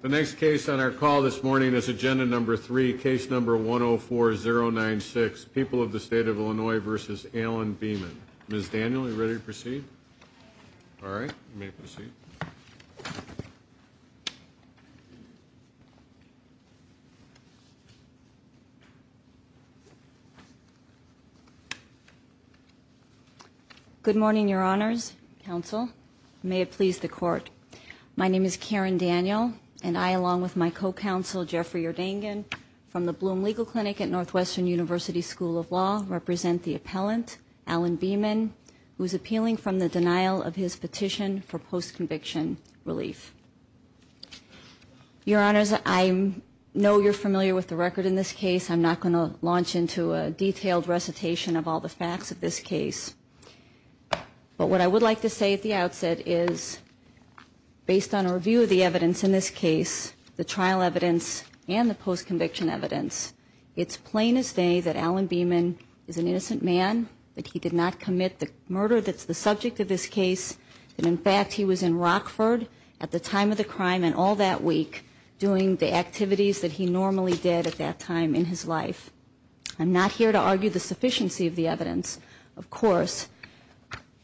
The next case on our call this morning is Agenda Number 3, Case Number 104-096, People of the State of Illinois v. Allen Beaman. Ms. Daniel, are you ready to proceed? Good morning, Your Honors, Counsel. May it please the Court. My name is Karen Daniel, and I, along with my co-counsel Jeffrey Erdangan from the Bloom Legal Clinic at Northwestern University School of Law, represent the appellant, Allen Beaman, who is appealing from the denial of his petition for post-conviction relief. Your Honors, I know you're familiar with the record in this case. I'm not going to launch into a detailed recitation of all the facts of this case. But what I would like to say at the outset is, based on a review of the evidence in this case, the trial evidence and the post-conviction evidence, it's plain as day that Allen Beaman is an innocent man, that he did not commit the murder that's the case, that in fact he was in Rockford at the time of the crime and all that week doing the activities that he normally did at that time in his life. I'm not here to argue the sufficiency of the evidence, of course,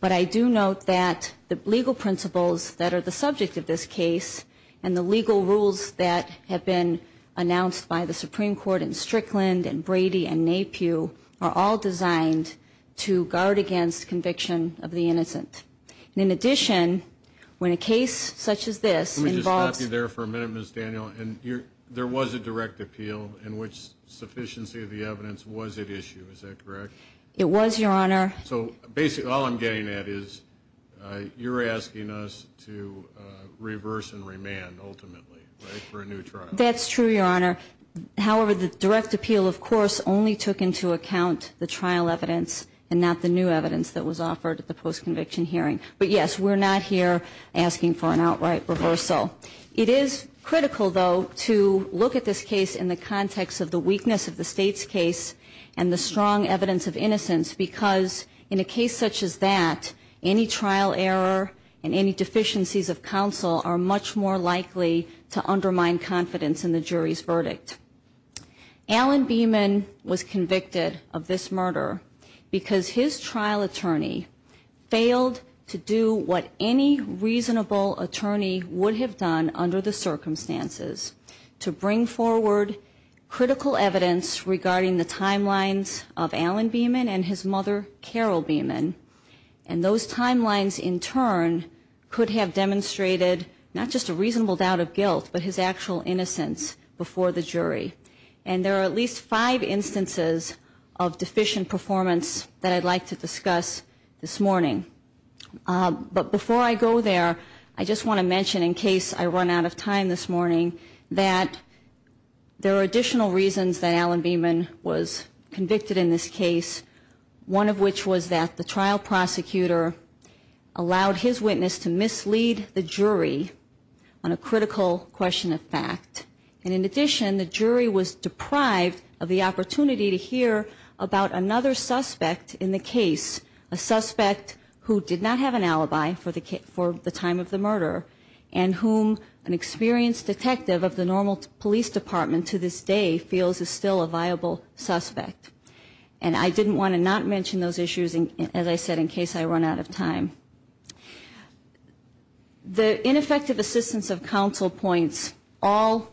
but I do note that the legal principles that are the subject of this case and the legal rules that have been announced by the Supreme Court in Strickland and Brady and Napiew are all designed to guard against conviction of the And in addition, when a case such as this involves... Let me just stop you there for a minute, Ms. Daniel. And there was a direct appeal in which sufficiency of the evidence was at issue, is that correct? It was, Your Honor. So basically all I'm getting at is, you're asking us to reverse and remand ultimately, right, for a new trial. That's true, Your Honor. However, the direct appeal, of course, only took into account the trial evidence and not the new evidence that was offered at the post-conviction hearing. But yes, we're not here asking for an outright reversal. It is critical, though, to look at this case in the context of the weakness of the State's case and the strong evidence of innocence because in a case such as that, any trial error and any deficiencies of counsel are much more likely to undermine confidence in the jury's verdict. Alan Beeman was convicted of this murder because his trial attorney failed to do what any reasonable attorney would have done under the circumstances to bring forward critical evidence regarding the timelines of Alan Beeman and his mother, Carol Beeman. And those timelines, in turn, could have demonstrated not just a reasonable doubt of guilt, but his actual innocence before the jury. And there are at least five instances of deficient performance that I'd like to discuss this morning. But before I go there, I just want to mention, in case I run out of time this morning, that there are additional reasons that Alan Beeman was convicted in this case, one of which was that the trial prosecutor allowed his witness to mislead the jury on a critical question of fact. And in addition, the jury was deprived of the opportunity to hear about another suspect in the case, a suspect who did not have an alibi for the time of the murder and whom an experienced detective of the normal police department to this day feels is still a viable suspect. And I didn't want to not mention those issues, as I said, in case I run out of time. The ineffective assistance of counsel points all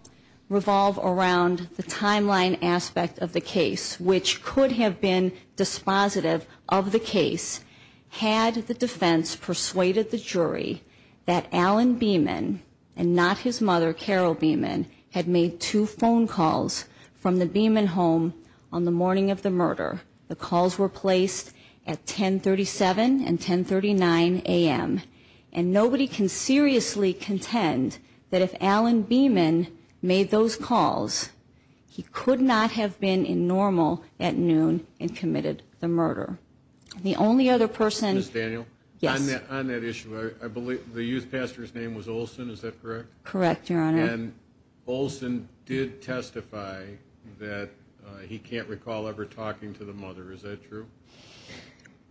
revolve around the timeline aspect of the case, which could have been dispositive of the case had the defense persuaded the jury that Alan Beeman and not his mother, Carol Beeman, had made two phone calls from the Beeman home on the morning of the murder. The calls were placed at 1037 and 1039 and nobody can seriously contend that if Alan Beeman made those calls, he could not have been in normal at noon and committed the murder. The only other person... Ms. Daniel? Yes. On that issue, I believe the youth pastor's name was Olson, is that correct? Correct, Your Honor. And Olson did testify that he can't recall ever talking to the mother. Is that true?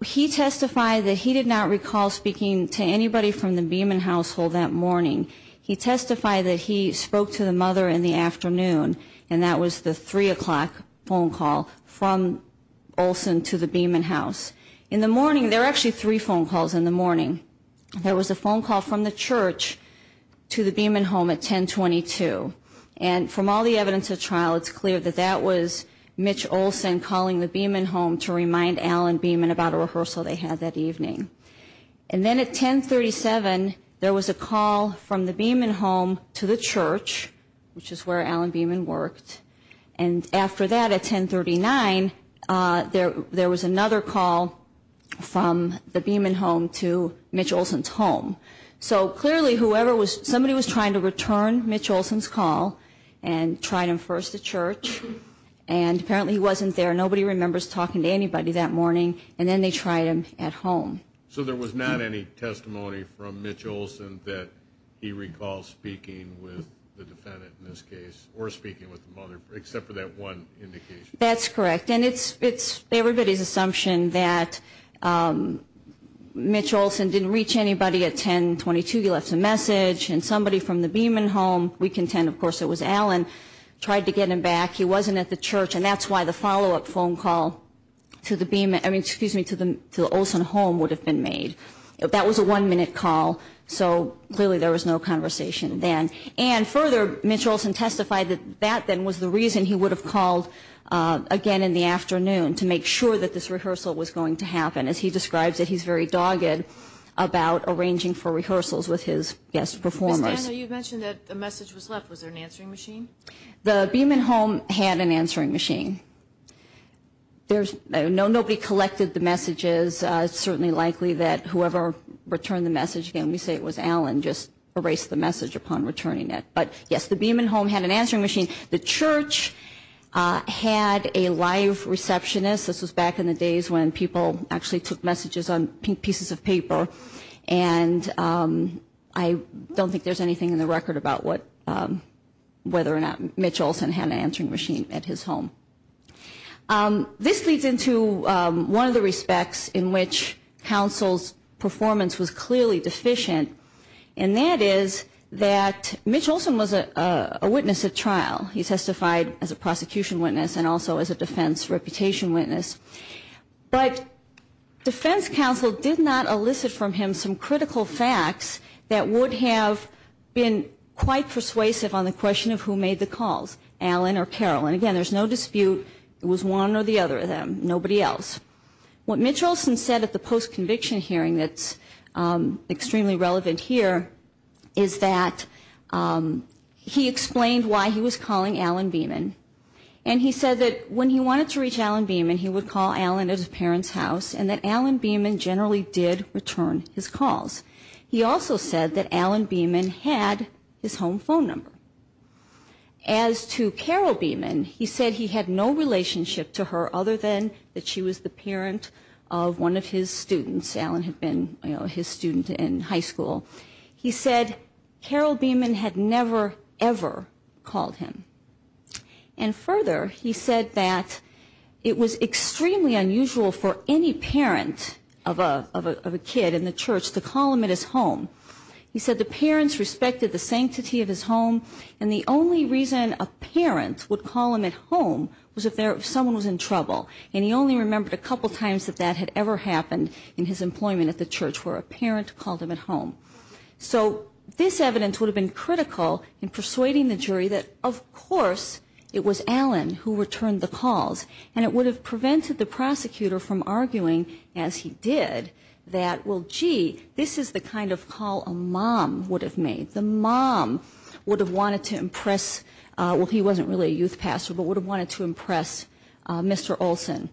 He testified that he did not recall speaking to anybody from the Beeman household that morning. He testified that he spoke to the mother in the afternoon, and that was the 3 o'clock phone call from Olson to the Beeman house. In the morning, there were actually three phone calls in the morning. There was a phone call from the church to the Beeman home at 1022. And from all the evidence at trial, it's clear that that was Mitch Olson calling the Beeman home to remind Alan Beeman about a rehearsal they had that evening. And then at 1037, there was a call from the Beeman home to the church, which is where Alan Beeman worked. And after that, at 1039, there was another call from the Beeman home to Mitch Olson's home. So clearly, whoever was, somebody was trying to return nobody remembers talking to anybody that morning. And then they tried him at home. So there was not any testimony from Mitch Olson that he recalls speaking with the defendant in this case, or speaking with the mother, except for that one indication? That's correct. And it's everybody's assumption that Mitch Olson didn't reach anybody at 1022. He left a message. And somebody from the Beeman home, we contend, of course, it was Alan, tried to get him back. He wasn't at the church. And that's why the follow-up phone call to the Beeman, I mean, excuse me, to the Olson home would have been made. That was a one-minute call. So clearly, there was no conversation then. And further, Mitch Olson testified that that then was the reason he would have called again in the afternoon to make sure that this rehearsal was going to happen. As he describes it, he's very dogged about arranging for rehearsals with his guest performers. Ms. Dana, you mentioned that a message was left. Was there an answering machine? The Beeman home had an answering machine. Nobody collected the messages. It's certainly likely that whoever returned the message, again, we say it was Alan, just erased the message upon returning it. But yes, the Beeman home had an answering machine. The church had a live receptionist. This was back in the days when people actually took messages on pieces of paper. And I don't think there's anything in the world where Mitch Olson had an answering machine at his home. This leads into one of the respects in which counsel's performance was clearly deficient. And that is that Mitch Olson was a witness at trial. He testified as a prosecution witness and also as a defense reputation witness. But defense counsel did not elicit from him some critical facts that would have been quite persuasive on the question of who made the calls, Alan or Carol. And again, there's no dispute it was one or the other of them, nobody else. What Mitch Olson said at the post-conviction hearing that's extremely relevant here is that he explained why he was calling Alan Beeman. And he said that when he wanted to reach Alan Beeman, he would call Alan at his parents' house, and that Alan Beeman generally did return his calls. He also said that Alan Beeman had his home phone number. As to Carol Beeman, he said he had no relationship to her other than that she was the parent of one of his students. Alan had been, you know, his student in high school. He said Carol Beeman had never, ever called him. And further, he said that it was extremely unusual for any parent of a kid in the And the only reason a parent would call him at home was if someone was in trouble. And he only remembered a couple times that that had ever happened in his employment at the church, where a parent called him at home. So this evidence would have been critical in persuading the jury that, of course, it was Alan who returned the calls. And it would have prevented the prosecutor from arguing, as he did, that, well, gee, this is the kind of call a mom would have made. The mom would have wanted to impress, well, he wasn't really a youth pastor, but would have wanted to impress Mr. Olson.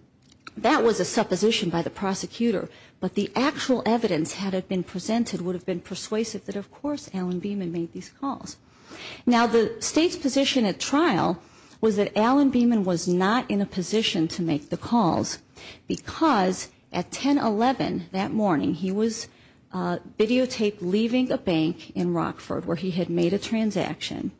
That was a supposition by the prosecutor. But the actual evidence, had it been presented, would have been persuasive that, of course, Alan Beeman made these calls. Now, the State's position at trial was that Alan Beeman was not in a position to make the calls, because at 10-11 that morning, he was videotaped leaving a bank in Rockford where he had made a transaction.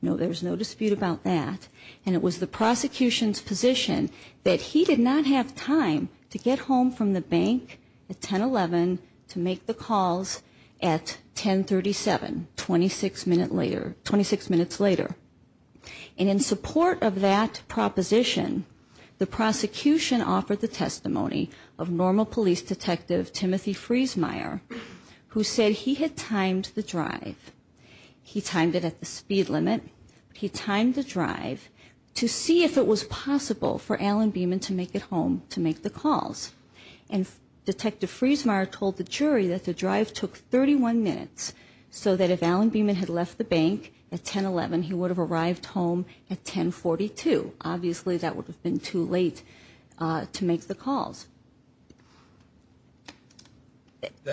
No, there was no dispute about that. And it was the prosecution's position that he did not have time to get home from the bank at 10-11 to make the calls at 10-37, 26 minutes later. And in support of that proposition, the prosecution offered the testimony of a normal police detective, Timothy Friesmeier, who said he had timed the drive. He timed it at the speed limit. He timed the drive to see if it was possible for Alan Beeman to make it home to make the calls. And Detective Friesmeier told the jury that the drive took 31 minutes, so that if Alan Beeman had left the bank at 10-11, he would have arrived home at 10-42. Obviously, that would have been too late to make the calls.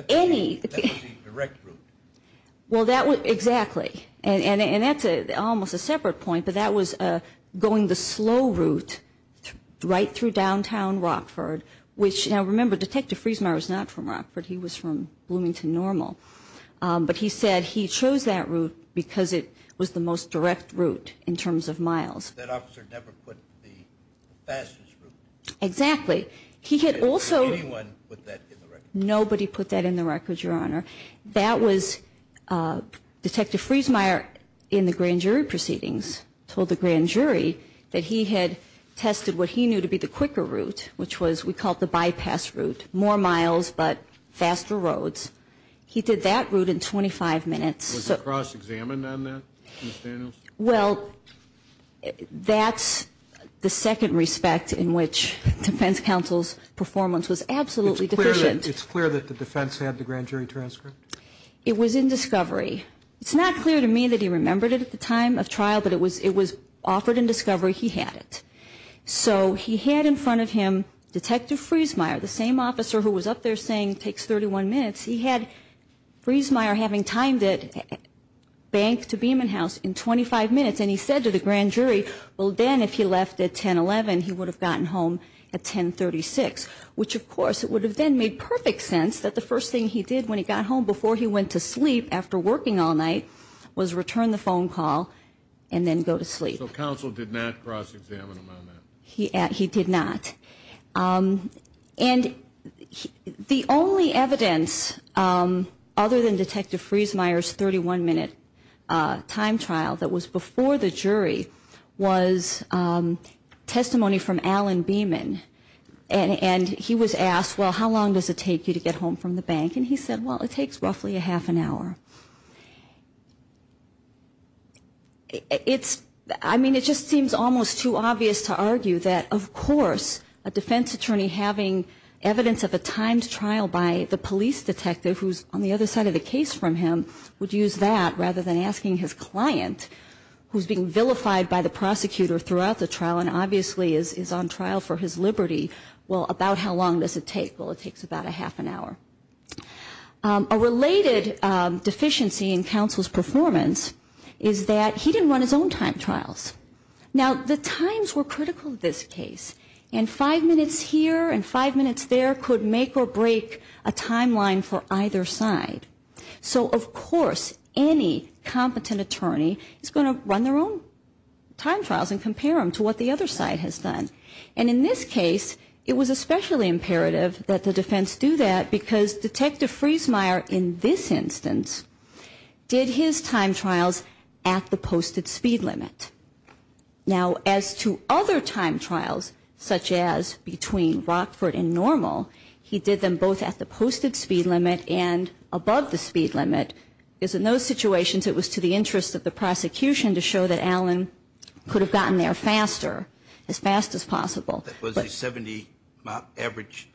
Any – That was the direct route. Well, that was – exactly. And that's almost a separate point, but that was going the slow route right through downtown Rockford, which – now, remember, Detective Friesmeier was not from Rockford. He was from Bloomington Normal. But he said he chose that route because it was the most direct route in terms of miles. That officer never put the fastest route. Exactly. He had also – Did anyone put that in the record? Nobody put that in the record, Your Honor. That was – Detective Friesmeier, in the grand jury proceedings, told the grand jury that he had tested what he knew to be the quicker route, which was – we called the bypass route. More miles, but faster roads. He did that route in 25 minutes. Was it cross-examined on that, Ms. Daniels? Well, that's the second respect in which defense counsel's performance was absolutely deficient. It's clear that the defense had the grand jury transcript? It was in discovery. It's not clear to me that he remembered it at the time of trial, but it was offered in discovery. He had it. So he had in front of him Detective Friesmeier, the same officer who was up there saying it takes 31 minutes, he had Friesmeier having timed it bank to Beeman House in 25 minutes, and he said to the grand jury, well, then if he left at 1011, he would have gotten home at 1036, which, of course, would have then made perfect sense that the first thing he did when he got home before he went to sleep after working all night was return the phone call and then go to sleep. So counsel did not cross-examine him on that? He did not. And the only evidence other than Detective Friesmeier's 31-minute time trial that was before the jury was testimony from Alan Beeman. And he was asked, well, how long does it take you to get home from the bank? And he said, well, it takes roughly a half an hour. It's, I mean, it just seems almost too obvious to argue that, of course, a defense attorney having evidence of a timed trial by the police detective who's on the other side of the case from him would use that rather than asking his client, who's being vilified by the prosecutor throughout the trial and obviously is on trial for his liberty, well, about how long does it take? Well, it takes about a half an hour. A related deficiency in counsel's performance is that he didn't run his own time trials. Now, the times were critical in this case. And five minutes here and five minutes there could make or break a timeline for either side. So, of course, any competent attorney is going to run their own time trials and compare them to what the other side has done. And in this case, it was especially imperative that the defense do that because Detective Friesmeier in this instance did his time trials at the posted speed limit. Now, as to other time trials, such as between Rockford and Normal, he did them both at the posted speed limit and above the speed limit, because in those situations it was to the interest of the prosecution to show that Allen could have gotten there faster, as fast as possible. Was it 70 miles average?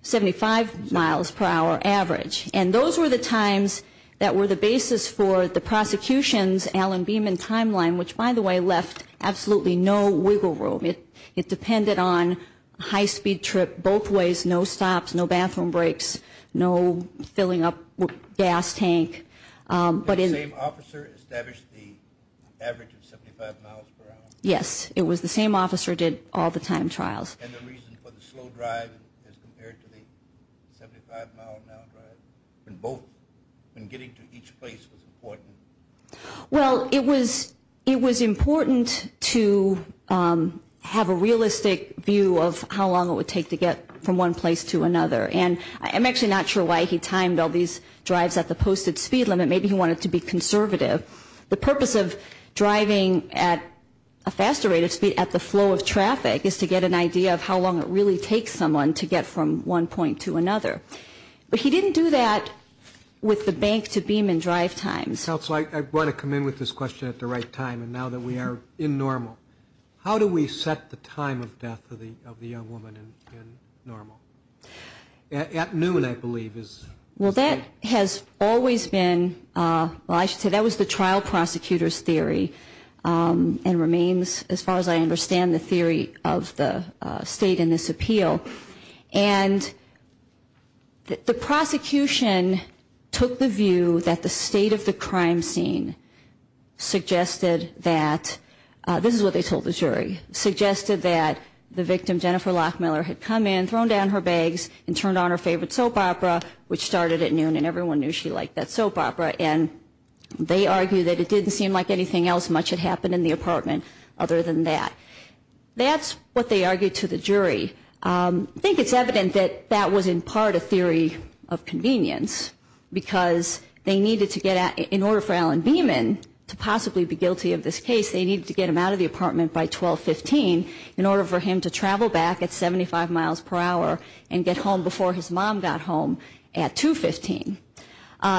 Seventy-five miles per hour average. And those were the times that were the basis for the prosecution's Allen-Beeman timeline, which, by the way, left absolutely no wiggle room. It depended on high-speed trip both ways, no stops, no bathroom breaks, no filling up gas tank. Did the same officer establish the average of 75 miles per hour? Yes, it was the same officer who did all the time trials. And the reason for the slow drive as compared to the 75-mile-an-hour drive, when getting to each place was important? Well, it was important to have a realistic view of how long it would take to get from one place to another. And I'm actually not sure why he timed all these drives at the posted speed limit. Maybe he wanted to be conservative. The purpose of driving at a faster rate of speed at the flow of traffic is to get an idea of how long it really takes someone to get from one point to another. But he didn't do that with the bank-to-Beeman drive times. Counsel, I want to come in with this question at the right time, and now that we are in normal. How do we set the time of death of the young woman in normal? At noon, I believe, is... Well, that has always been, well, I should say that was the trial prosecutor's theory and remains, as far as I understand, the theory of the state in this appeal. And the prosecution took the view that the state of the crime scene suggested that this is what they told the jury, suggested that the victim, Jennifer Lockmiller, had come in, thrown down her bags, and turned on her favorite soap opera, which started at noon, and everyone knew she liked that soap opera. And they argued that it didn't seem like anything else much had happened in the apartment other than that. That's what they argued to the jury. I think it's evident that that was in part a theory of convenience, because they needed to get out, in order for Alan Beeman to possibly be guilty of this case, they needed to get him out of the apartment by 12.15 in order for him to travel back at 75 miles per hour and get home before his mom got home at 2.15.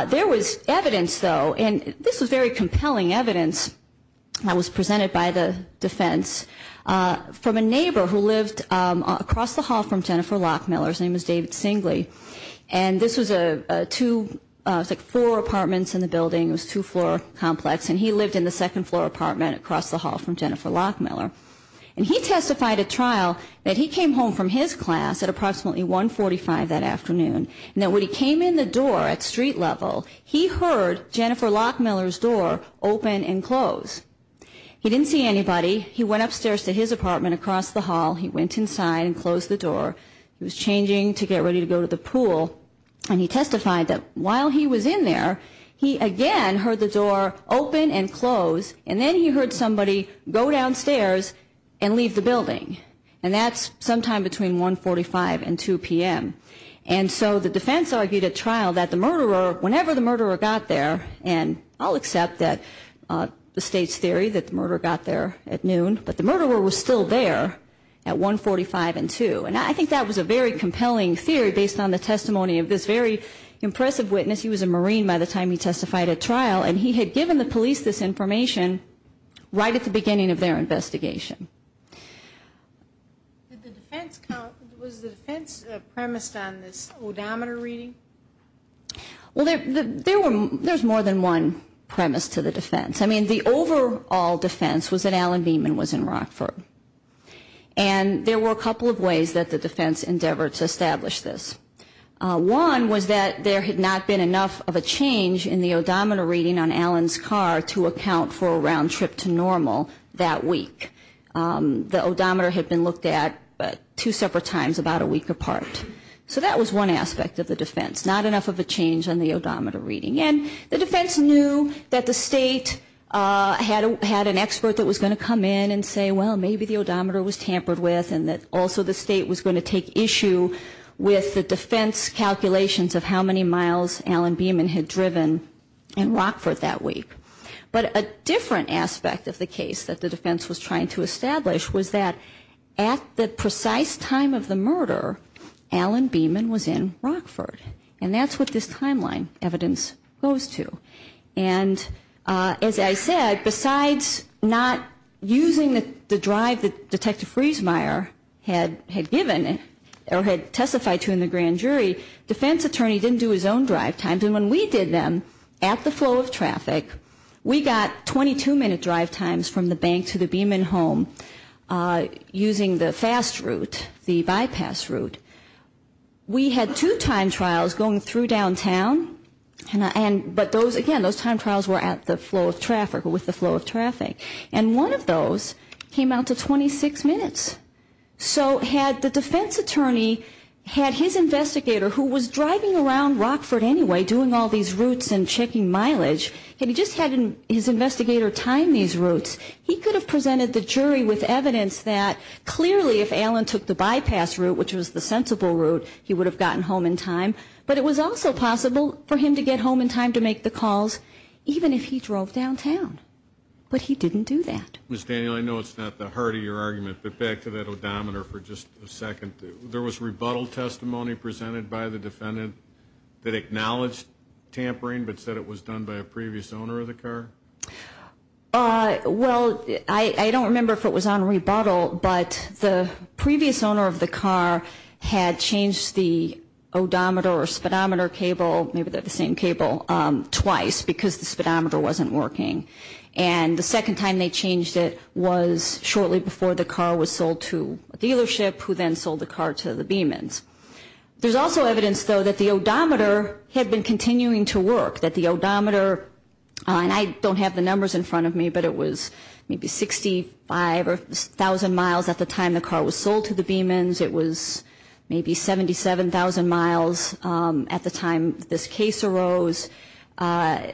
There was evidence, though, and this was very compelling evidence that was presented by the defense, from a neighbor who lived across the hall from Jennifer Lockmiller. His name is David Singley. And this was a two, it was like four apartments in the building. It was a two-floor complex, and he lived in the second-floor apartment across the hall from Jennifer Lockmiller. And he testified at trial that he came home from his class at approximately 1.45 that afternoon, and that when he came in the door at street level, he heard Jennifer Lockmiller's door open and close. He didn't see anybody. He went upstairs to his apartment across the hall. He went inside and closed the door. He was changing to get ready to go to the pool. And he testified that while he was in there, he again heard the door open and close, and then he heard somebody go downstairs and leave the building. And that's sometime between 1.45 and 2 p.m. And so the defense argued at trial that the murderer, whenever the murderer got there, and I'll accept that the state's theory that the murderer got there at noon, but the murderer was still there at 1.45 and 2. And I think that was a very compelling theory based on the testimony of this very impressive witness. He was a Marine by the time he testified at trial, and he had given the police this information right at the beginning of their investigation. Was the defense premised on this odometer reading? Well, there's more than one premise to the defense. I mean, the overall defense was that Alan Beeman was in Rockford. And there were a couple of ways that the defense endeavored to establish this. One was that there had not been enough of a change in the odometer reading on Alan's car to account for a round trip to normal that week. The odometer had been looked at two separate times about a week apart. So that was one aspect of the defense, not enough of a change on the odometer reading. And the defense knew that the state had an expert that was going to come in and say, well, maybe the odometer was tampered with and that also the state was going to take issue with the defense calculations of how many miles Alan Beeman had driven in Rockford that week. But a different aspect of the case that the defense was trying to establish was that at the precise time of the murder, Alan Beeman was in Rockford. And that's what this timeline evidence goes to. And as I said, besides not using the drive that Detective Friesmeier had given or had testified to in the grand jury, defense attorney didn't do his own drive times. And when we did them at the flow of traffic, we got 22-minute drive times from the bank to the Beeman home using the fast route, the bypass route. We had two time trials going through downtown. But those, again, those time trials were at the flow of traffic or with the flow of traffic. And one of those came out to 26 minutes. So had the defense attorney had his investigator, who was driving around Rockford anyway, doing all these routes and checking mileage, had he just had his investigator time these routes, he could have presented the jury with evidence that clearly if Alan took the bypass route, which was the sensible route, he would have gotten home in time. But it was also possible for him to get home in time to make the calls even if he drove downtown. But he didn't do that. Ms. Daniel, I know it's not the heart of your argument, but back to that odometer for just a second. There was rebuttal testimony presented by the defendant that acknowledged tampering but said it was done by a previous owner of the car? Well, I don't remember if it was on rebuttal, but the previous owner of the car had changed the odometer or speedometer cable, maybe they're the same cable, twice because the speedometer wasn't working. And the second time they changed it was shortly before the car was sold to a dealership, who then sold the car to the Beeman's. There's also evidence, though, that the odometer had been continuing to work, that the odometer, and I don't have the numbers in front of me, but it was maybe 65,000 miles at the time the car was sold to the Beeman's. It was maybe 77,000 miles at the time this case arose. When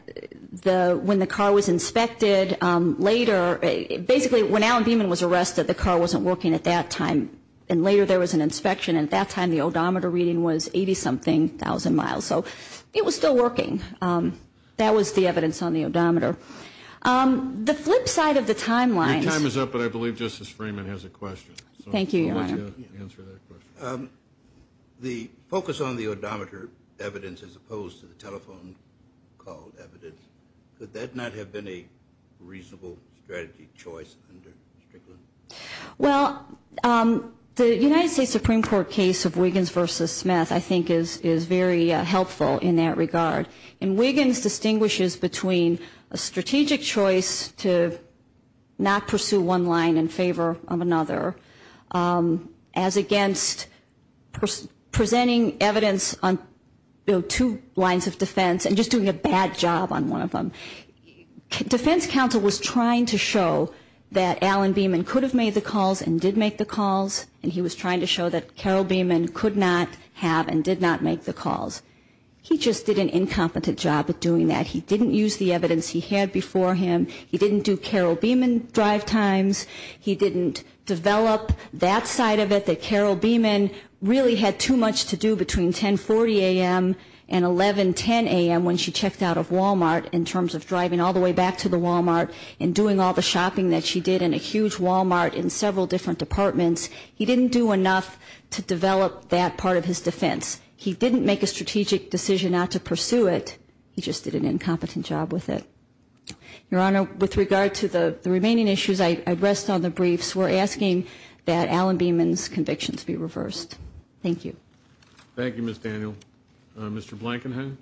the car was inspected later, basically when Alan Beeman was arrested, the car wasn't working at that time. And later there was an inspection, and at that time the odometer reading was 80-something thousand miles. So it was still working. That was the evidence on the odometer. The flip side of the timeline. Your time is up, but I believe Justice Freeman has a question. Thank you, Your Honor. The focus on the odometer evidence as opposed to the telephone call evidence, could that not have been a reasonable strategy choice under Strickland? Well, the United States Supreme Court case of Wiggins v. Smith I think is very helpful in that regard. And Wiggins distinguishes between a strategic choice to not pursue one line in favor of another as against presenting evidence on two lines of defense and just doing a bad job on one of them. Defense counsel was trying to show that Alan Beeman could have made the calls and did make the calls, and he was trying to show that Carol Beeman could not have and did not make the calls. He just did an incompetent job at doing that. He didn't use the evidence he had before him. He didn't do Carol Beeman drive times. He didn't develop that side of it that Carol Beeman really had too much to do between 1040 a.m. and 1110 a.m. when she checked out of Walmart in terms of driving all the way back to the Walmart and doing all the shopping that she did in a huge Walmart in several different departments. He didn't do enough to develop that part of his defense. He didn't make a strategic decision not to pursue it. He just did an incompetent job with it. Your Honor, with regard to the remaining issues, I rest on the briefs. We're asking that Alan Beeman's convictions be reversed. Thank you. Thank you, Ms. Daniel. Mr. Blankenheim.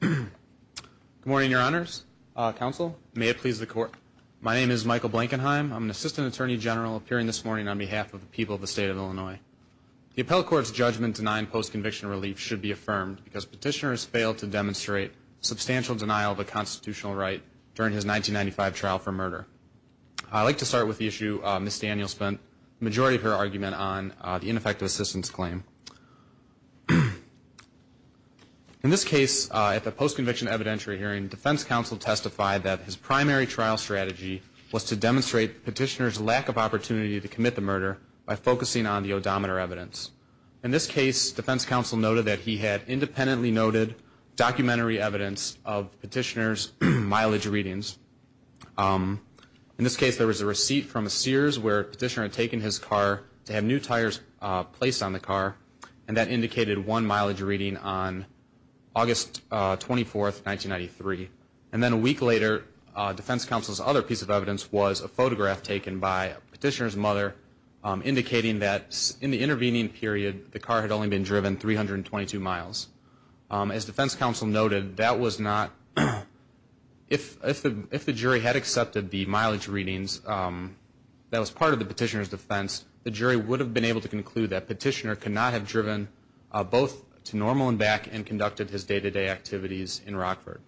Good morning, Your Honors. Counsel, may it please the Court. My name is Michael Blankenheim. I'm an assistant attorney general appearing this morning on behalf of the people of the state of Illinois. The appellate court's judgment denying post-conviction relief should be affirmed because petitioner has failed to demonstrate substantial denial of a constitutional right during his 1995 trial for murder. I'd like to start with the issue Ms. Daniel spent the majority of her argument on, the ineffective assistance claim. In this case, at the post-conviction evidentiary hearing, defense counsel testified that his primary trial strategy was to demonstrate petitioner's lack of opportunity to commit the murder by focusing on the odometer evidence. In this case, defense counsel noted that he had independently noted documentary evidence of petitioner's mileage readings. In this case, there was a receipt from a Sears where a petitioner had taken his car to have new tires placed on the car, and that indicated one mileage reading on August 24, 1993. And then a week later, defense counsel's other piece of evidence was a photograph taken by a petitioner's mother indicating that in the intervening period, the car had only been driven 322 miles. As defense counsel noted, that was not, if the jury had accepted the mileage readings that was part of the petitioner's defense, the jury would have been able to conclude that petitioner could not have driven both to normal and back and conducted his day-to-day activities in Rockford.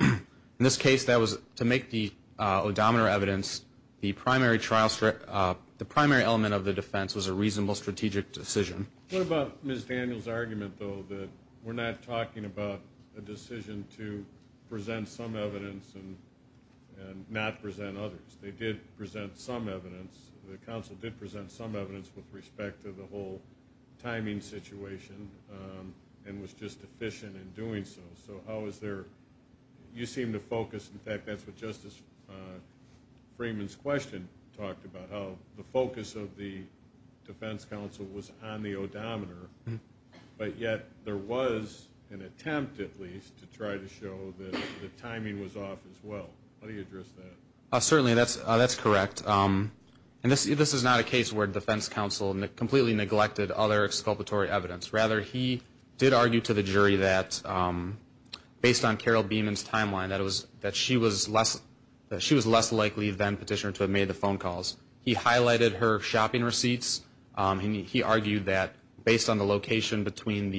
In this case, that was to make the odometer evidence the primary element of the defense was a reasonable strategic decision. What about Ms. Daniels' argument, though, that we're not talking about a decision to present some evidence and not present others? They did present some evidence. The counsel did present some evidence with respect to the whole timing situation and was just efficient in doing so. So how is there, you seem to focus, in fact, that's what Justice Freeman's question talked about, how the focus of the defense counsel was on the odometer, but yet there was an attempt, at least, to try to show that the timing was off as well. How do you address that? Certainly, that's correct. And this is not a case where defense counsel completely neglected other exculpatory evidence. Rather, he did argue to the jury that, based on Carol Beamon's timeline, that she was less likely than petitioner to have made the phone calls. He highlighted her shopping receipts. He argued that, based on the location between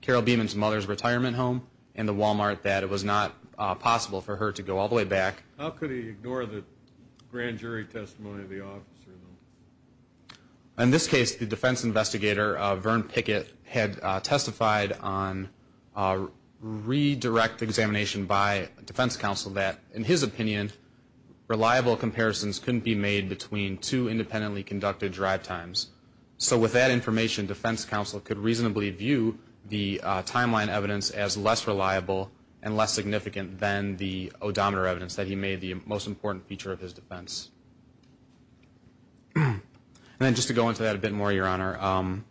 Carol Beamon's mother's retirement home and the Walmart, that it was not possible for her to go all the way back. How could he ignore the grand jury testimony of the officer, though? In this case, the defense investigator, Vern Pickett, had testified on redirect examination by defense counsel that, in his opinion, reliable comparisons couldn't be made between two independently conducted drive times. So with that information, defense counsel could reasonably view the timeline evidence as less reliable and less significant than the odometer evidence that he made the most important feature of his defense. And then, just to go into that a bit more, Your Honor,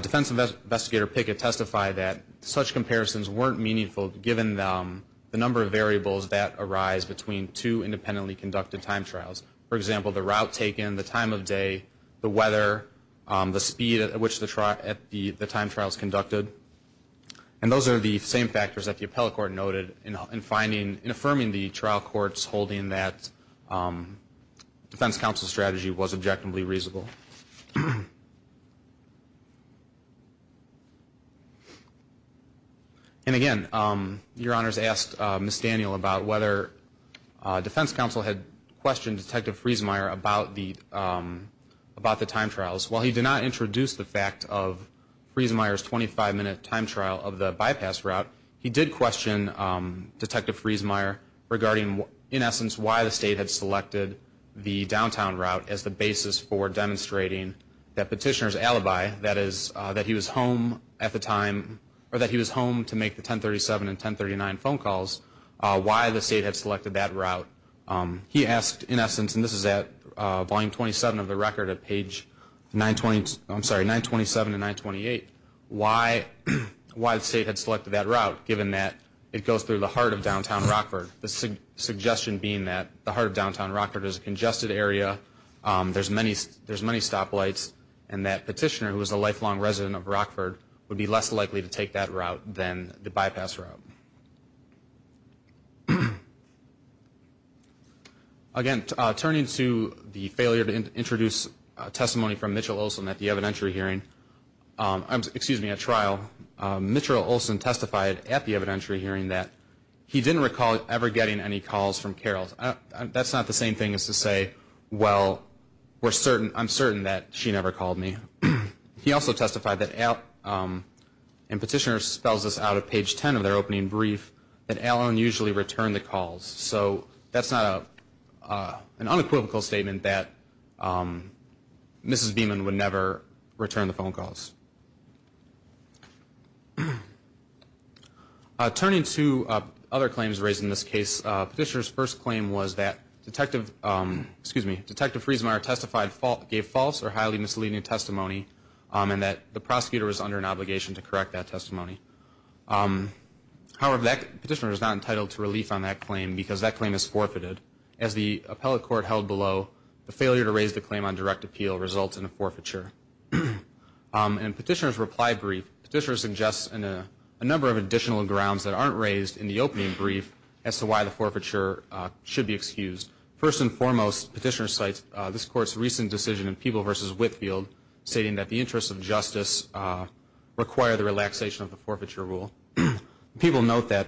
defense investigator Pickett testified that such comparisons weren't meaningful, given the number of variables that arise between two independently conducted time trials. For example, the route taken, the time of day, the weather, the speed at which the time trial is conducted. And those are the same factors that the appellate court noted in finding, in affirming the trial court's holding that defense counsel's strategy was objectively reasonable. And again, Your Honor's asked Ms. Daniel about whether defense counsel had questioned Detective Friesenmeier about the time trials. While he did not introduce the fact of Friesenmeier's 25-minute time trial of the bypass route, he did question Detective Friesenmeier regarding, in essence, why the state had selected the downtown route as the basis for demonstrating that petitioner's alibi, that he was home at the time, or that he was home to make the 1037 and 1039 phone calls, why the state had selected that route. He asked, in essence, and this is at volume 27 of the record at page 927 and 928, why the state had selected that route, given that it goes through the heart of downtown Rockford. The suggestion being that the heart of downtown Rockford is a congested area, there's many stoplights, and that petitioner, who was a lifelong resident of Rockford, would be less likely to take that route than the bypass route. Again, turning to the failure to introduce testimony from Mitchell Olson at the evidentiary hearing, excuse me, at trial, Mitchell Olson testified at the evidentiary hearing that he didn't recall ever getting any calls from Carol. That's not the same thing as to say, well, I'm certain that she never called me. He also testified that, and petitioner spells this out at page 10 of their opening brief, that Alan usually returned the calls. So that's not an unequivocal statement that Mrs. Beeman would never return the phone calls. Turning to other claims raised in this case, petitioner's first claim was that Detective, Detective Friesenmeier testified, gave false or highly misleading testimony, and that the prosecutor was under an obligation to correct that testimony. However, that petitioner is not entitled to relief on that claim, because that claim is forfeited. As the appellate court held below, the failure to raise the claim on direct appeal results in a forfeiture. And petitioner's reply brief, petitioner suggests a number of additional grounds that aren't raised in the opening brief as to why the forfeiture should be excused. First and foremost, petitioner cites this Court's recent decision in Peeble v. Whitfield, stating that the interests of justice require the relaxation of the forfeiture rule. People note that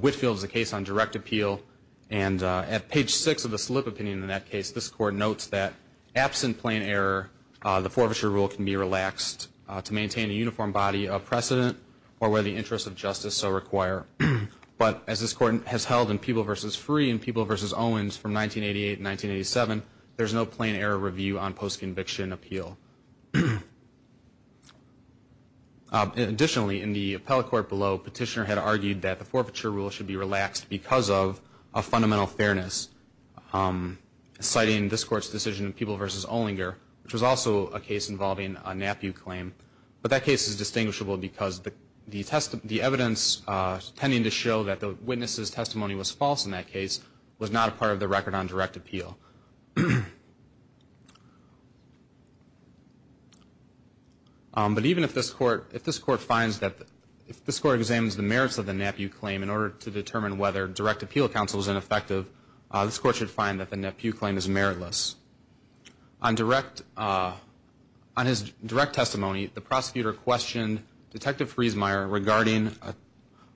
Whitfield is a case on direct appeal, and at page 6 of the slip opinion in that case, this Court notes that absent plain error, the forfeiture rule can be relaxed to maintain a uniform body of precedent or where the interests of justice so require. But as this Court has held in Peeble v. Free and Peeble v. Owens from 1988 and 1987, there's no plain error review on post-conviction appeal. Additionally, in the appellate court below, petitioner had argued that the forfeiture rule should be relaxed because of a fundamental fairness, citing this Court's decision in Peeble v. Olinger, which was also a case involving a NAPU claim. But that case is distinguishable because the evidence tending to show that the witness's testimony was false in that case was not a part of the record on direct appeal. But even if this Court examines the merits of the NAPU claim, in order to determine whether direct appeal counsel is ineffective, this Court should find that the NAPU claim is meritless. On direct, on his direct testimony, the prosecutor questioned Detective Friesmeier regarding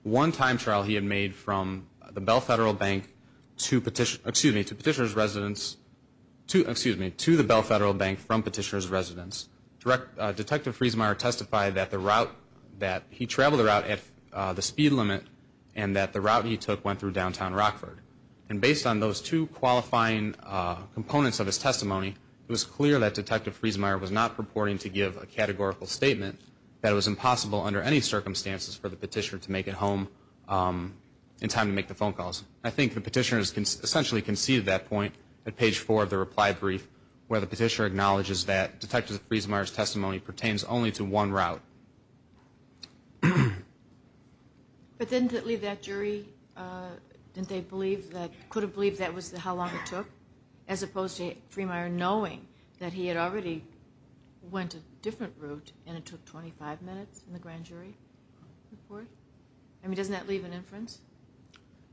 one time trial he had made from the Bell Federal Bank to petitioner's residence, excuse me, to the Bell Federal Bank from petitioner's residence. Detective Friesmeier testified that the route, that he traveled the route at the speed limit and that the route he took went through downtown Rockford. And based on those two qualifying components of his testimony, it was clear that Detective Friesmeier was not purporting to give a categorical statement that it was impossible under any circumstances for the petitioner to make it home in time to make the phone calls. I think the petitioner has essentially conceded that point at page four of the reply brief where the petitioner acknowledges that Detective Friesmeier's testimony pertains only to one route. But didn't it leave that jury, didn't they believe that, could have believed that was how long it took? As opposed to Friesmeier knowing that he had already went a different route and it took 25 minutes in the grand jury report? I mean, doesn't that leave an inference?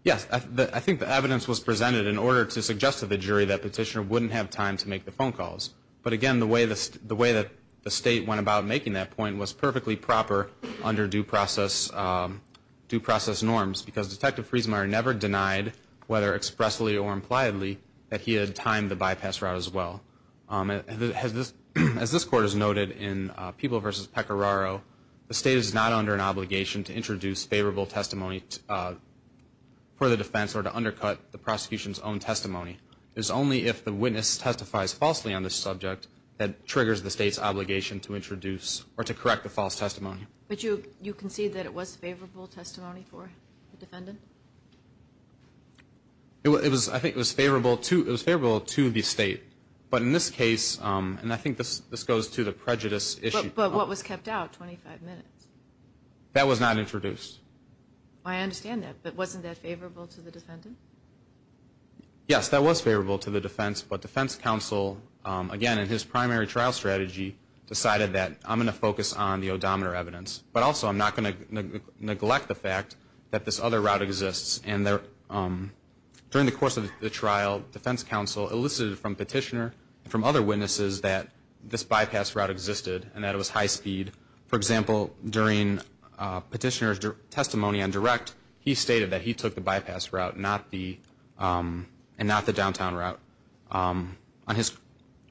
Yes. I think the evidence was presented in order to suggest to the jury that petitioner wouldn't have time to make the phone calls. But again, the way that the State went about making that point was purposefully and perfectly proper under due process norms because Detective Friesmeier never denied, whether expressly or impliedly, that he had timed the bypass route as well. As this Court has noted in People v. Pecoraro, the State is not under an obligation to introduce favorable testimony for the defense or to undercut the prosecution's own testimony. It is only if the witness testifies falsely on the subject that triggers the State's obligation to introduce or to correct the false testimony. But you concede that it was favorable testimony for the defendant? I think it was favorable to the State. But in this case, and I think this goes to the prejudice issue. But what was kept out, 25 minutes? That was not introduced. I understand that. But wasn't that favorable to the defendant? Yes, that was favorable to the defense. But defense counsel, again, in his primary trial strategy, decided that I'm going to focus on the odometer evidence. But also I'm not going to neglect the fact that this other route exists. And during the course of the trial, defense counsel elicited from Petitioner and from other witnesses that this bypass route existed and that it was high speed. For example, during Petitioner's testimony on direct, he stated that he took the bypass route and not the downtown route.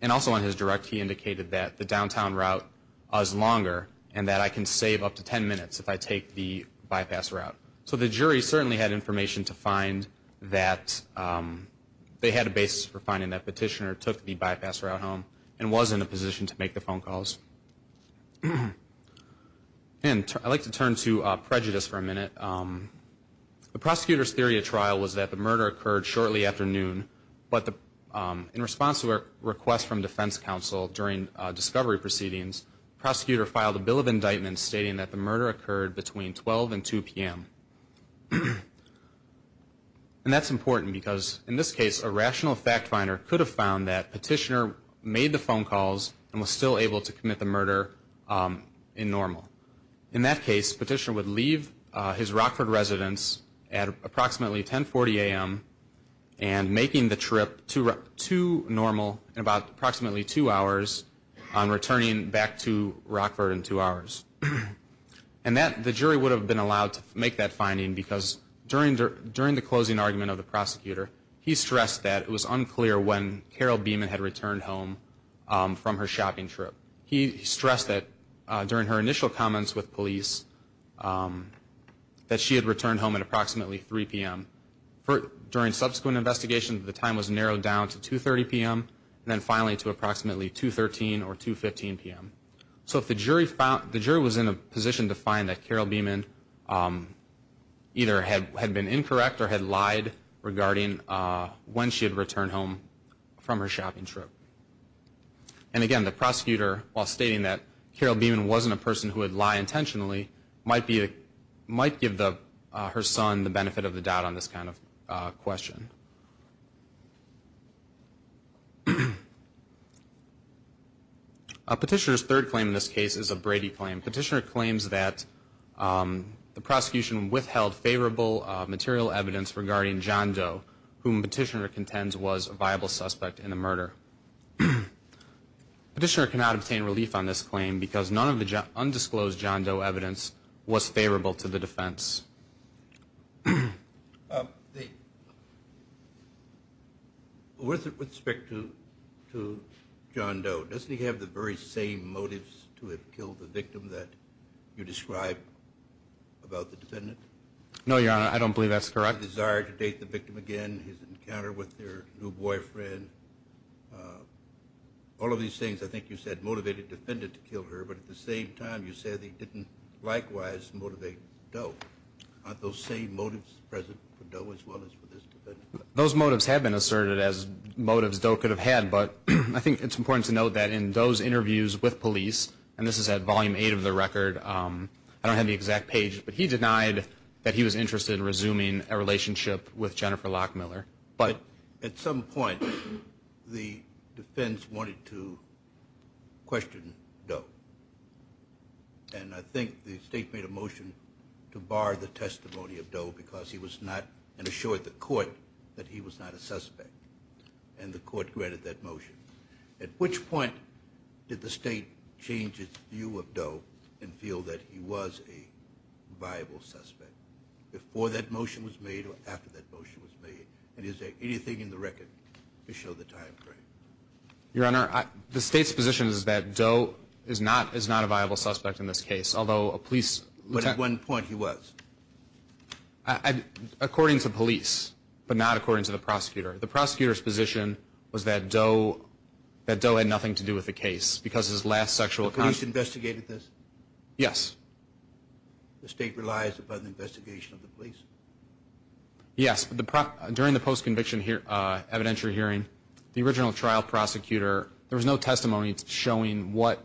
And also on his direct, he indicated that the downtown route was longer and that I can save up to 10 minutes if I take the bypass route. So the jury certainly had information to find that they had a basis for finding that Petitioner took the bypass route home and was in a position to make the phone calls. And I'd like to turn to prejudice for a minute. The prosecutor's theory of trial was that the murder occurred shortly after noon. But in response to a request from defense counsel during discovery proceedings, the prosecutor filed a bill of indictment stating that the murder occurred between 12 and 2 p.m. And that's important because, in this case, a rational fact finder could have found that Petitioner made the phone calls and was still able to commit the murder in normal. In that case, Petitioner would leave his Rockford residence at approximately 1040 a.m. and making the trip to normal in about approximately two hours and returning back to Rockford in two hours. And the jury would have been allowed to make that finding because during the closing argument of the prosecutor, he stressed that it was unclear when Carol Beeman had returned home from her shopping trip. He stressed that during her initial comments with police, that she had returned home at approximately 3 p.m. During subsequent investigations, the time was narrowed down to 2.30 p.m. and then finally to approximately 2.13 or 2.15 p.m. So if the jury was in a position to find that Carol Beeman either had been incorrect or had lied regarding when she had returned home from her shopping trip. And again, the prosecutor, while stating that Carol Beeman wasn't a person who would lie intentionally, might give her son the benefit of the doubt on this kind of question. Petitioner's third claim in this case is a Brady claim. Petitioner claims that the prosecution withheld favorable material evidence regarding John Doe, whom Petitioner contends was a viable suspect in the murder. Petitioner cannot obtain relief on this claim because none of the undisclosed John Doe evidence was favorable to the defense. With respect to John Doe, doesn't he have the very same motives to have killed the victim that you described about the defendant? No, Your Honor, I don't believe that's correct. His desire to date the victim again, his encounter with her new boyfriend, all of these things I think you said motivated the defendant to kill her, but at the same time you said they didn't likewise motivate Doe. Aren't those same motives present for Doe as well as for this defendant? Those motives have been asserted as motives Doe could have had, but I think it's important to note that in those interviews with police, and this is at Volume 8 of the record, I don't have the exact page, but he denied that he was interested in resuming a relationship with Jennifer Locke Miller. But at some point the defense wanted to question Doe, and I think the state made a motion to bar the testimony of Doe because he was not assured the court that he was not a suspect, and the court granted that motion. At which point did the state change its view of Doe and feel that he was a viable suspect, before that motion was made or after that motion was made, and is there anything in the record to show the time frame? Your Honor, the state's position is that Doe is not a viable suspect in this case, although a police detective But at what point he was? According to police, but not according to the prosecutor. The prosecutor's position was that Doe had nothing to do with the case, because his last sexual contact The police investigated this? Yes. The state relies upon the investigation of the police? Yes. During the post-conviction evidentiary hearing, the original trial prosecutor, there was no testimony showing what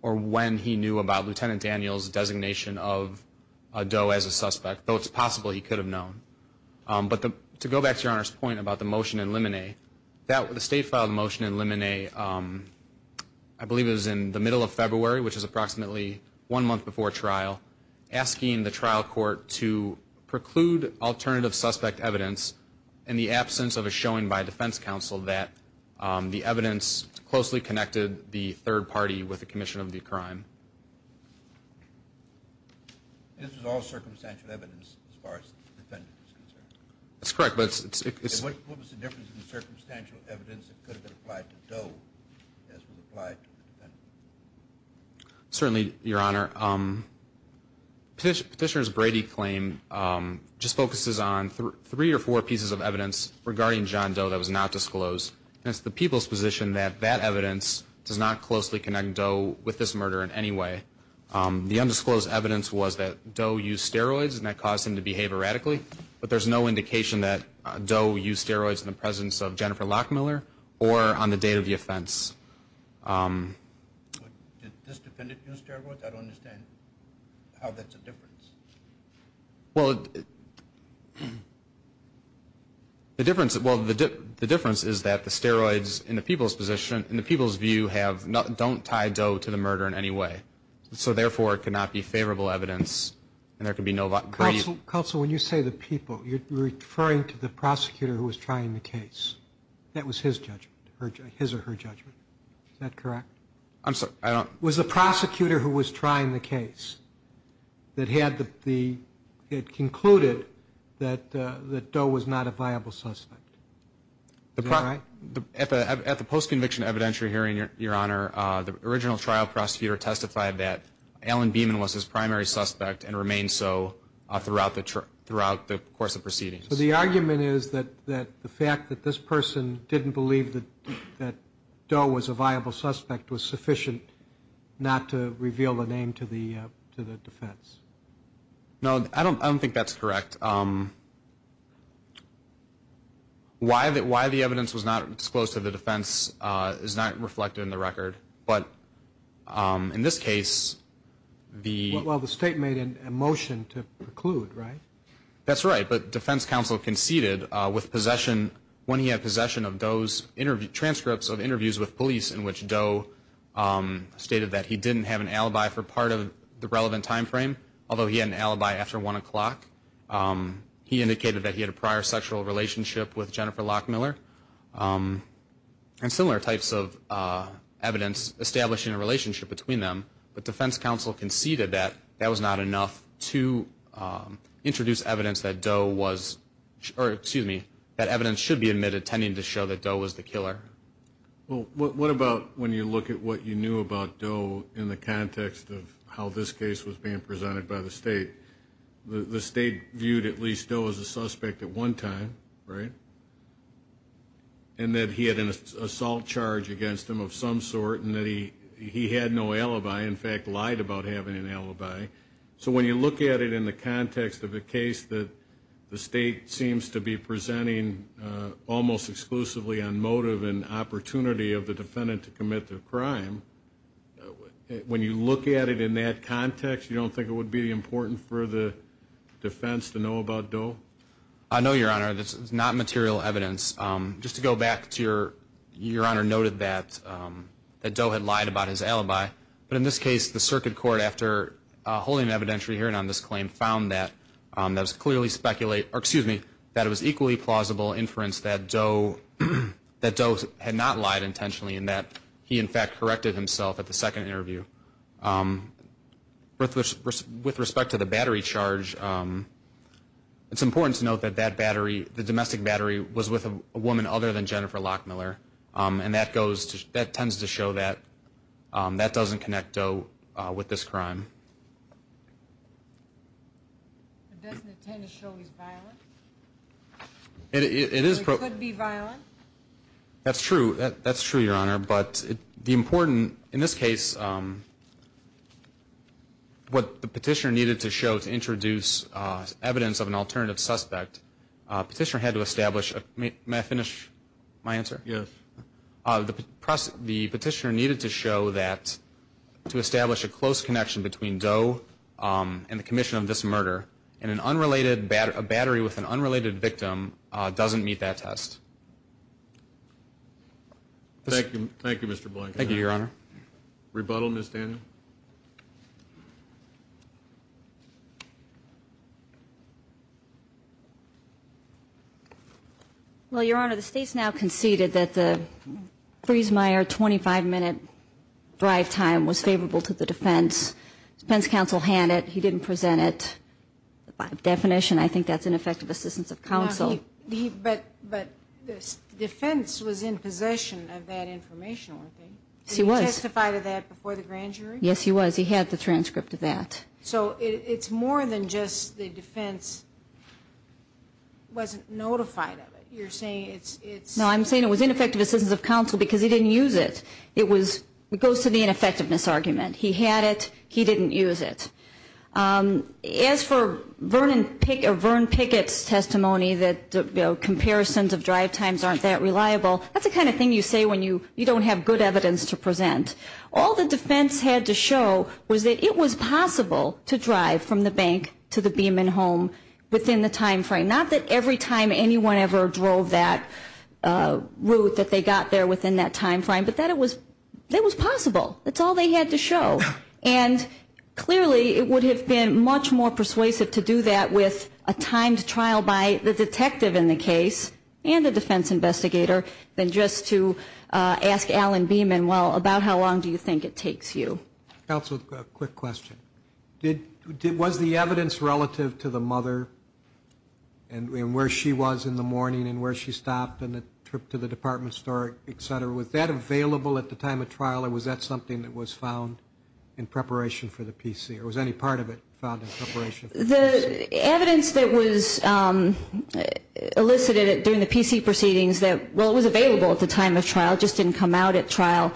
or when he knew about Lieutenant Daniel's designation of Doe as a suspect, though it's possible he could have known. But to go back to Your Honor's point about the motion in limine, the state filed a motion in limine, I believe it was in the middle of February, which is approximately one month before trial, asking the trial court to preclude alternative suspect evidence in the absence of a showing by a defense counsel that the evidence closely connected the third party with the commission of the crime. This is all circumstantial evidence as far as the defendant is concerned? That's correct, but it's What was the difference in the circumstantial evidence that could have been applied to Doe as was applied to the defendant? Certainly, Your Honor. Petitioner's Brady claim just focuses on three or four pieces of evidence regarding John Doe that was not disclosed, and it's the people's position that that evidence does not closely connect Doe with this murder in any way. The undisclosed evidence was that Doe used steroids and that caused him to behave erratically, but there's no indication that Doe used steroids in the presence of Jennifer Lockmiller or on the date of the offense. Did this defendant use steroids? I don't understand how that's a difference. Well, the difference is that the steroids, in the people's position, in the people's view don't tie Doe to the murder in any way, so therefore it cannot be favorable evidence and there can be no Counsel, when you say the people, you're referring to the prosecutor who was trying the case. That was his judgment, his or her judgment. Is that correct? I'm sorry, I don't It was the prosecutor who was trying the case that had concluded that Doe was not a viable suspect. Is that right? At the post-conviction evidentiary hearing, Your Honor, the original trial prosecutor testified that Alan Beeman was his primary suspect and remained so throughout the course of proceedings. So the argument is that the fact that this person didn't believe that Doe was a viable suspect was sufficient not to reveal the name to the defense. No, I don't think that's correct. Why the evidence was not disclosed to the defense is not reflected in the record, but in this case the Well, the state made a motion to preclude, right? That's right, but defense counsel conceded with possession, when he had possession of Doe's transcripts of interviews with police in which Doe stated that he didn't have an alibi for part of the relevant time frame, although he had an alibi after 1 o'clock. He indicated that he had a prior sexual relationship with Jennifer Locke Miller and similar types of evidence establishing a relationship between them. But defense counsel conceded that that was not enough to introduce evidence that Doe was or, excuse me, that evidence should be admitted tending to show that Doe was the killer. Well, what about when you look at what you knew about Doe in the context of how this case was being presented by the state? The state viewed at least Doe as a suspect at one time, right? And that he had an assault charge against him of some sort and that he had no alibi, in fact, lied about having an alibi. So when you look at it in the context of a case that the state seems to be presenting almost exclusively on motive and opportunity of the defendant to commit the crime, when you look at it in that context, you don't think it would be important for the defense to know about Doe? No, Your Honor. This is not material evidence. Just to go back to your Honor noted that Doe had lied about his alibi, but in this case the circuit court, after holding an evidentiary hearing on this claim, found that it was equally plausible inference that Doe had not lied intentionally and that he, in fact, corrected himself at the second interview. With respect to the battery charge, it's important to note that the domestic battery was with a woman other than Jennifer Lockmiller, and that tends to show that that doesn't connect Doe with this crime. Doesn't it tend to show he's violent? It could be violent. That's true, Your Honor, but the important, in this case, what the petitioner needed to show to introduce evidence of an alternative suspect, petitioner had to establish, may I finish my answer? Yes. The petitioner needed to show that to establish a close connection between Doe and the commission of this murder, and a battery with an unrelated victim doesn't meet that test. Thank you, Your Honor. Rebuttal, Ms. Daniel. Well, Your Honor, the state's now conceded that the Friesmeier 25-minute drive time was favorable to the defense. The defense counsel had it. He didn't present it. By definition, I think that's ineffective assistance of counsel. But the defense was in possession of that information, weren't they? Yes, he was. Did he testify to that before the grand jury? Yes, he was. He had the transcript of that. So it's more than just the defense wasn't notified of it. You're saying it's – No, I'm saying it was ineffective assistance of counsel because he didn't use it. It goes to the ineffectiveness argument. He had it. He didn't use it. As for Vern Pickett's testimony that comparisons of drive times aren't that reliable, that's the kind of thing you say when you don't have good evidence to present. All the defense had to show was that it was possible to drive from the bank to the Beeman home within the time frame. Not that every time anyone ever drove that route that they got there within that time frame, but that it was possible. That's all they had to show. And clearly, it would have been much more persuasive to do that with a timed trial by the detective in the case and the defense investigator than just to ask Alan Beeman, well, about how long do you think it takes you? Counsel, a quick question. Was the evidence relative to the mother and where she was in the morning and where she stopped and the trip to the department store, et cetera, was that available at the time of trial or was that something that was found in preparation for the PC? Or was any part of it found in preparation for the PC? The evidence that was elicited during the PC proceedings that, well, it was available at the time of trial, it just didn't come out at trial,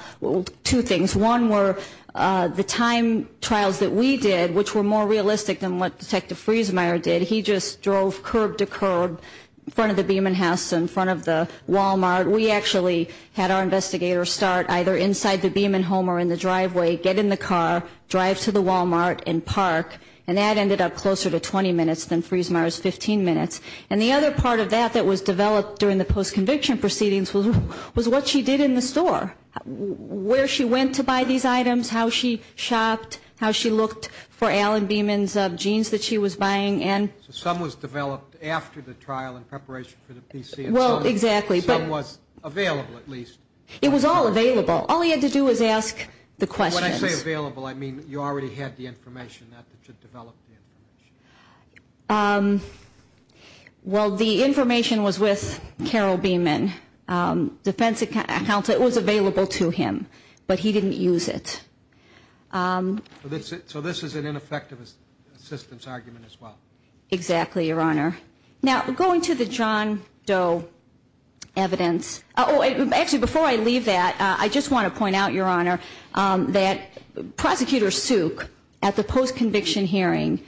two things. One were the timed trials that we did, which were more realistic than what Detective Friesmeier did. He just drove curb to curb in front of the Beeman house, in front of the Walmart. We actually had our investigators start either inside the Beeman home or in the driveway, get in the car, drive to the Walmart and park. And that ended up closer to 20 minutes than Friesmeier's 15 minutes. And the other part of that that was developed during the post-conviction proceedings was what she did in the store, where she went to buy these items, how she shopped, how she looked for Alan Beeman's jeans that she was buying. So some was developed after the trial in preparation for the PC. Well, exactly. Some was available, at least. It was all available. All he had to do was ask the questions. When I say available, I mean you already had the information. Not that you developed the information. Well, the information was with Carol Beeman. Defense account, it was available to him. But he didn't use it. So this is an ineffective assistance argument as well. Exactly, Your Honor. Now, going to the John Doe evidence. Actually, before I leave that, I just want to point out, Your Honor, that Prosecutor Suk at the post-conviction hearing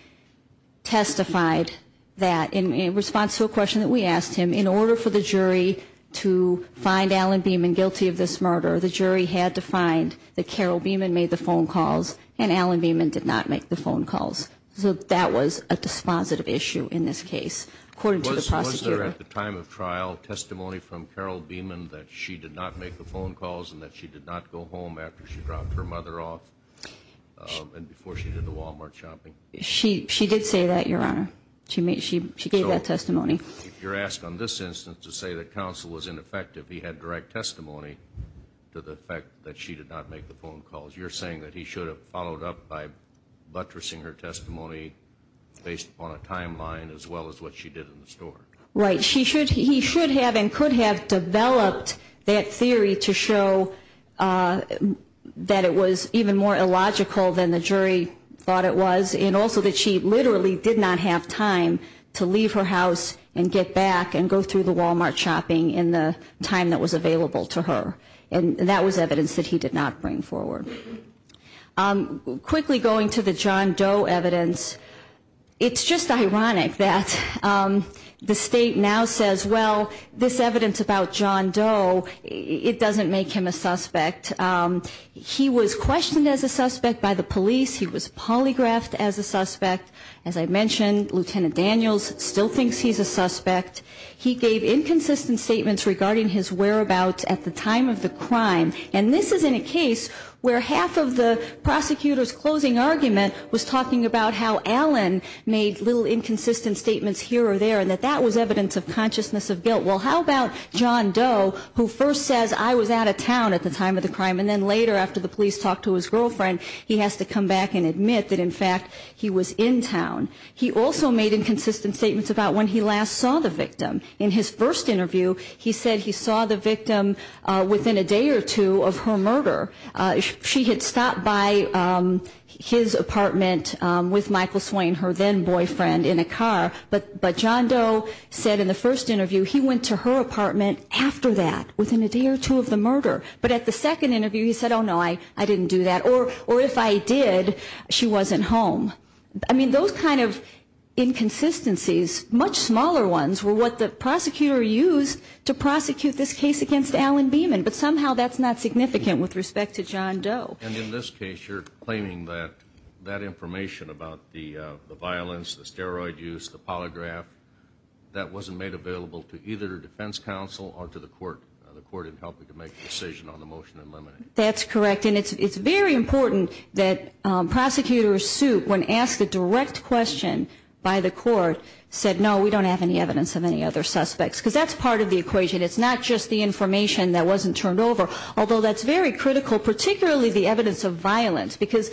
testified that, in response to a question that we asked him, in order for the jury to find Alan Beeman guilty of this murder, the jury had to find that Carol Beeman made the phone calls and Alan Beeman did not make the phone calls. So that was a dispositive issue in this case, according to the prosecutor. Was there, at the time of trial, testimony from Carol Beeman that she did not make the phone calls and that she did not go home after she dropped her mother off and before she did the Walmart shopping? She did say that, Your Honor. She gave that testimony. You're asked on this instance to say that counsel was ineffective. He had direct testimony to the fact that she did not make the phone calls. You're saying that he should have followed up by buttressing her testimony based upon a timeline as well as what she did in the store? Right. He should have and could have developed that theory to show that it was even more illogical than the jury thought it was, and also that she literally did not have time to leave her house and get back and go through the Walmart shopping in the time that was available to her. And that was evidence that he did not bring forward. Quickly going to the John Doe evidence, it's just ironic that the State now says, well, this evidence about John Doe, it doesn't make him a suspect. He was questioned as a suspect by the police. He was polygraphed as a suspect. As I mentioned, Lieutenant Daniels still thinks he's a suspect. He gave inconsistent statements regarding his whereabouts at the time of the crime. And this is in a case where half of the prosecutor's closing argument was talking about how Allen made little inconsistent statements here or there and that that was evidence of consciousness of guilt. Well, how about John Doe, who first says, I was out of town at the time of the crime, and then later after the police talked to his girlfriend, he has to come back and admit that, in fact, he was in town. He also made inconsistent statements about when he last saw the victim. In his first interview, he said he saw the victim within a day or two of her murder. She had stopped by his apartment with Michael Swain, her then boyfriend, in a car. But John Doe said in the first interview he went to her apartment after that, within a day or two of the murder. But at the second interview, he said, oh, no, I didn't do that. Or if I did, she wasn't home. I mean, those kind of inconsistencies, much smaller ones, were what the prosecutor used to prosecute this case against Allen Beeman. But somehow that's not significant with respect to John Doe. And in this case, you're claiming that that information about the violence, the steroid use, the polygraph, that wasn't made available to either the defense counsel or to the court in helping to make a decision on the motion in limine. That's correct. And it's very important that prosecutors sued when asked a direct question by the court, said, no, we don't have any evidence of any other suspects. Because that's part of the equation. It's not just the information that wasn't turned over. Although that's very critical, particularly the evidence of violence. Because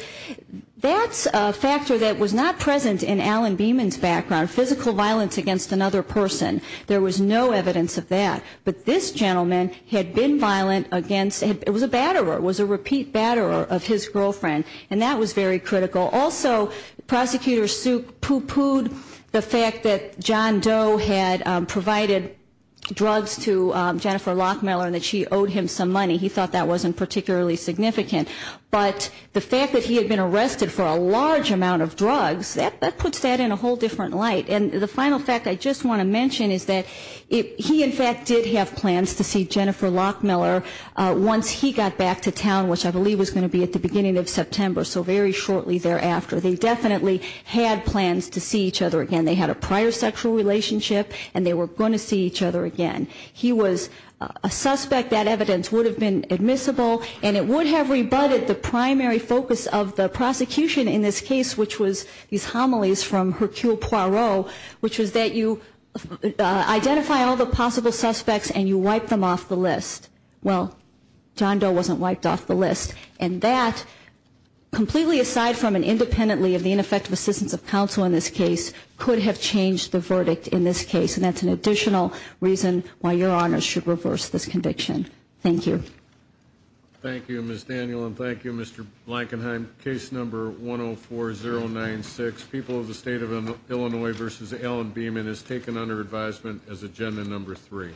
that's a factor that was not present in Allen Beeman's background, physical violence against another person. There was no evidence of that. But this gentleman had been violent against him. It was a batterer. It was a repeat batterer of his girlfriend. And that was very critical. Also, prosecutors pooh-poohed the fact that John Doe had provided drugs to Jennifer Lockmiller and that she owed him some money. He thought that wasn't particularly significant. But the fact that he had been arrested for a large amount of drugs, that puts that in a whole different light. to see Jennifer Lockmiller once he got back to town, which I believe was going to be at the beginning of September, so very shortly thereafter. They definitely had plans to see each other again. They had a prior sexual relationship, and they were going to see each other again. He was a suspect. That evidence would have been admissible, and it would have rebutted the primary focus of the prosecution in this case, which was these homilies from Hercule Poirot, which was that you identify all the possible suspects and you wipe them off the list. Well, John Doe wasn't wiped off the list. And that, completely aside from and independently of the ineffective assistance of counsel in this case, could have changed the verdict in this case, and that's an additional reason why Your Honors should reverse this conviction. Thank you. Thank you, Ms. Daniel, and thank you, Mr. Blankenheim. And then case number 104096, People of the State of Illinois v. Allen Beeman is taken under advisement as agenda number three.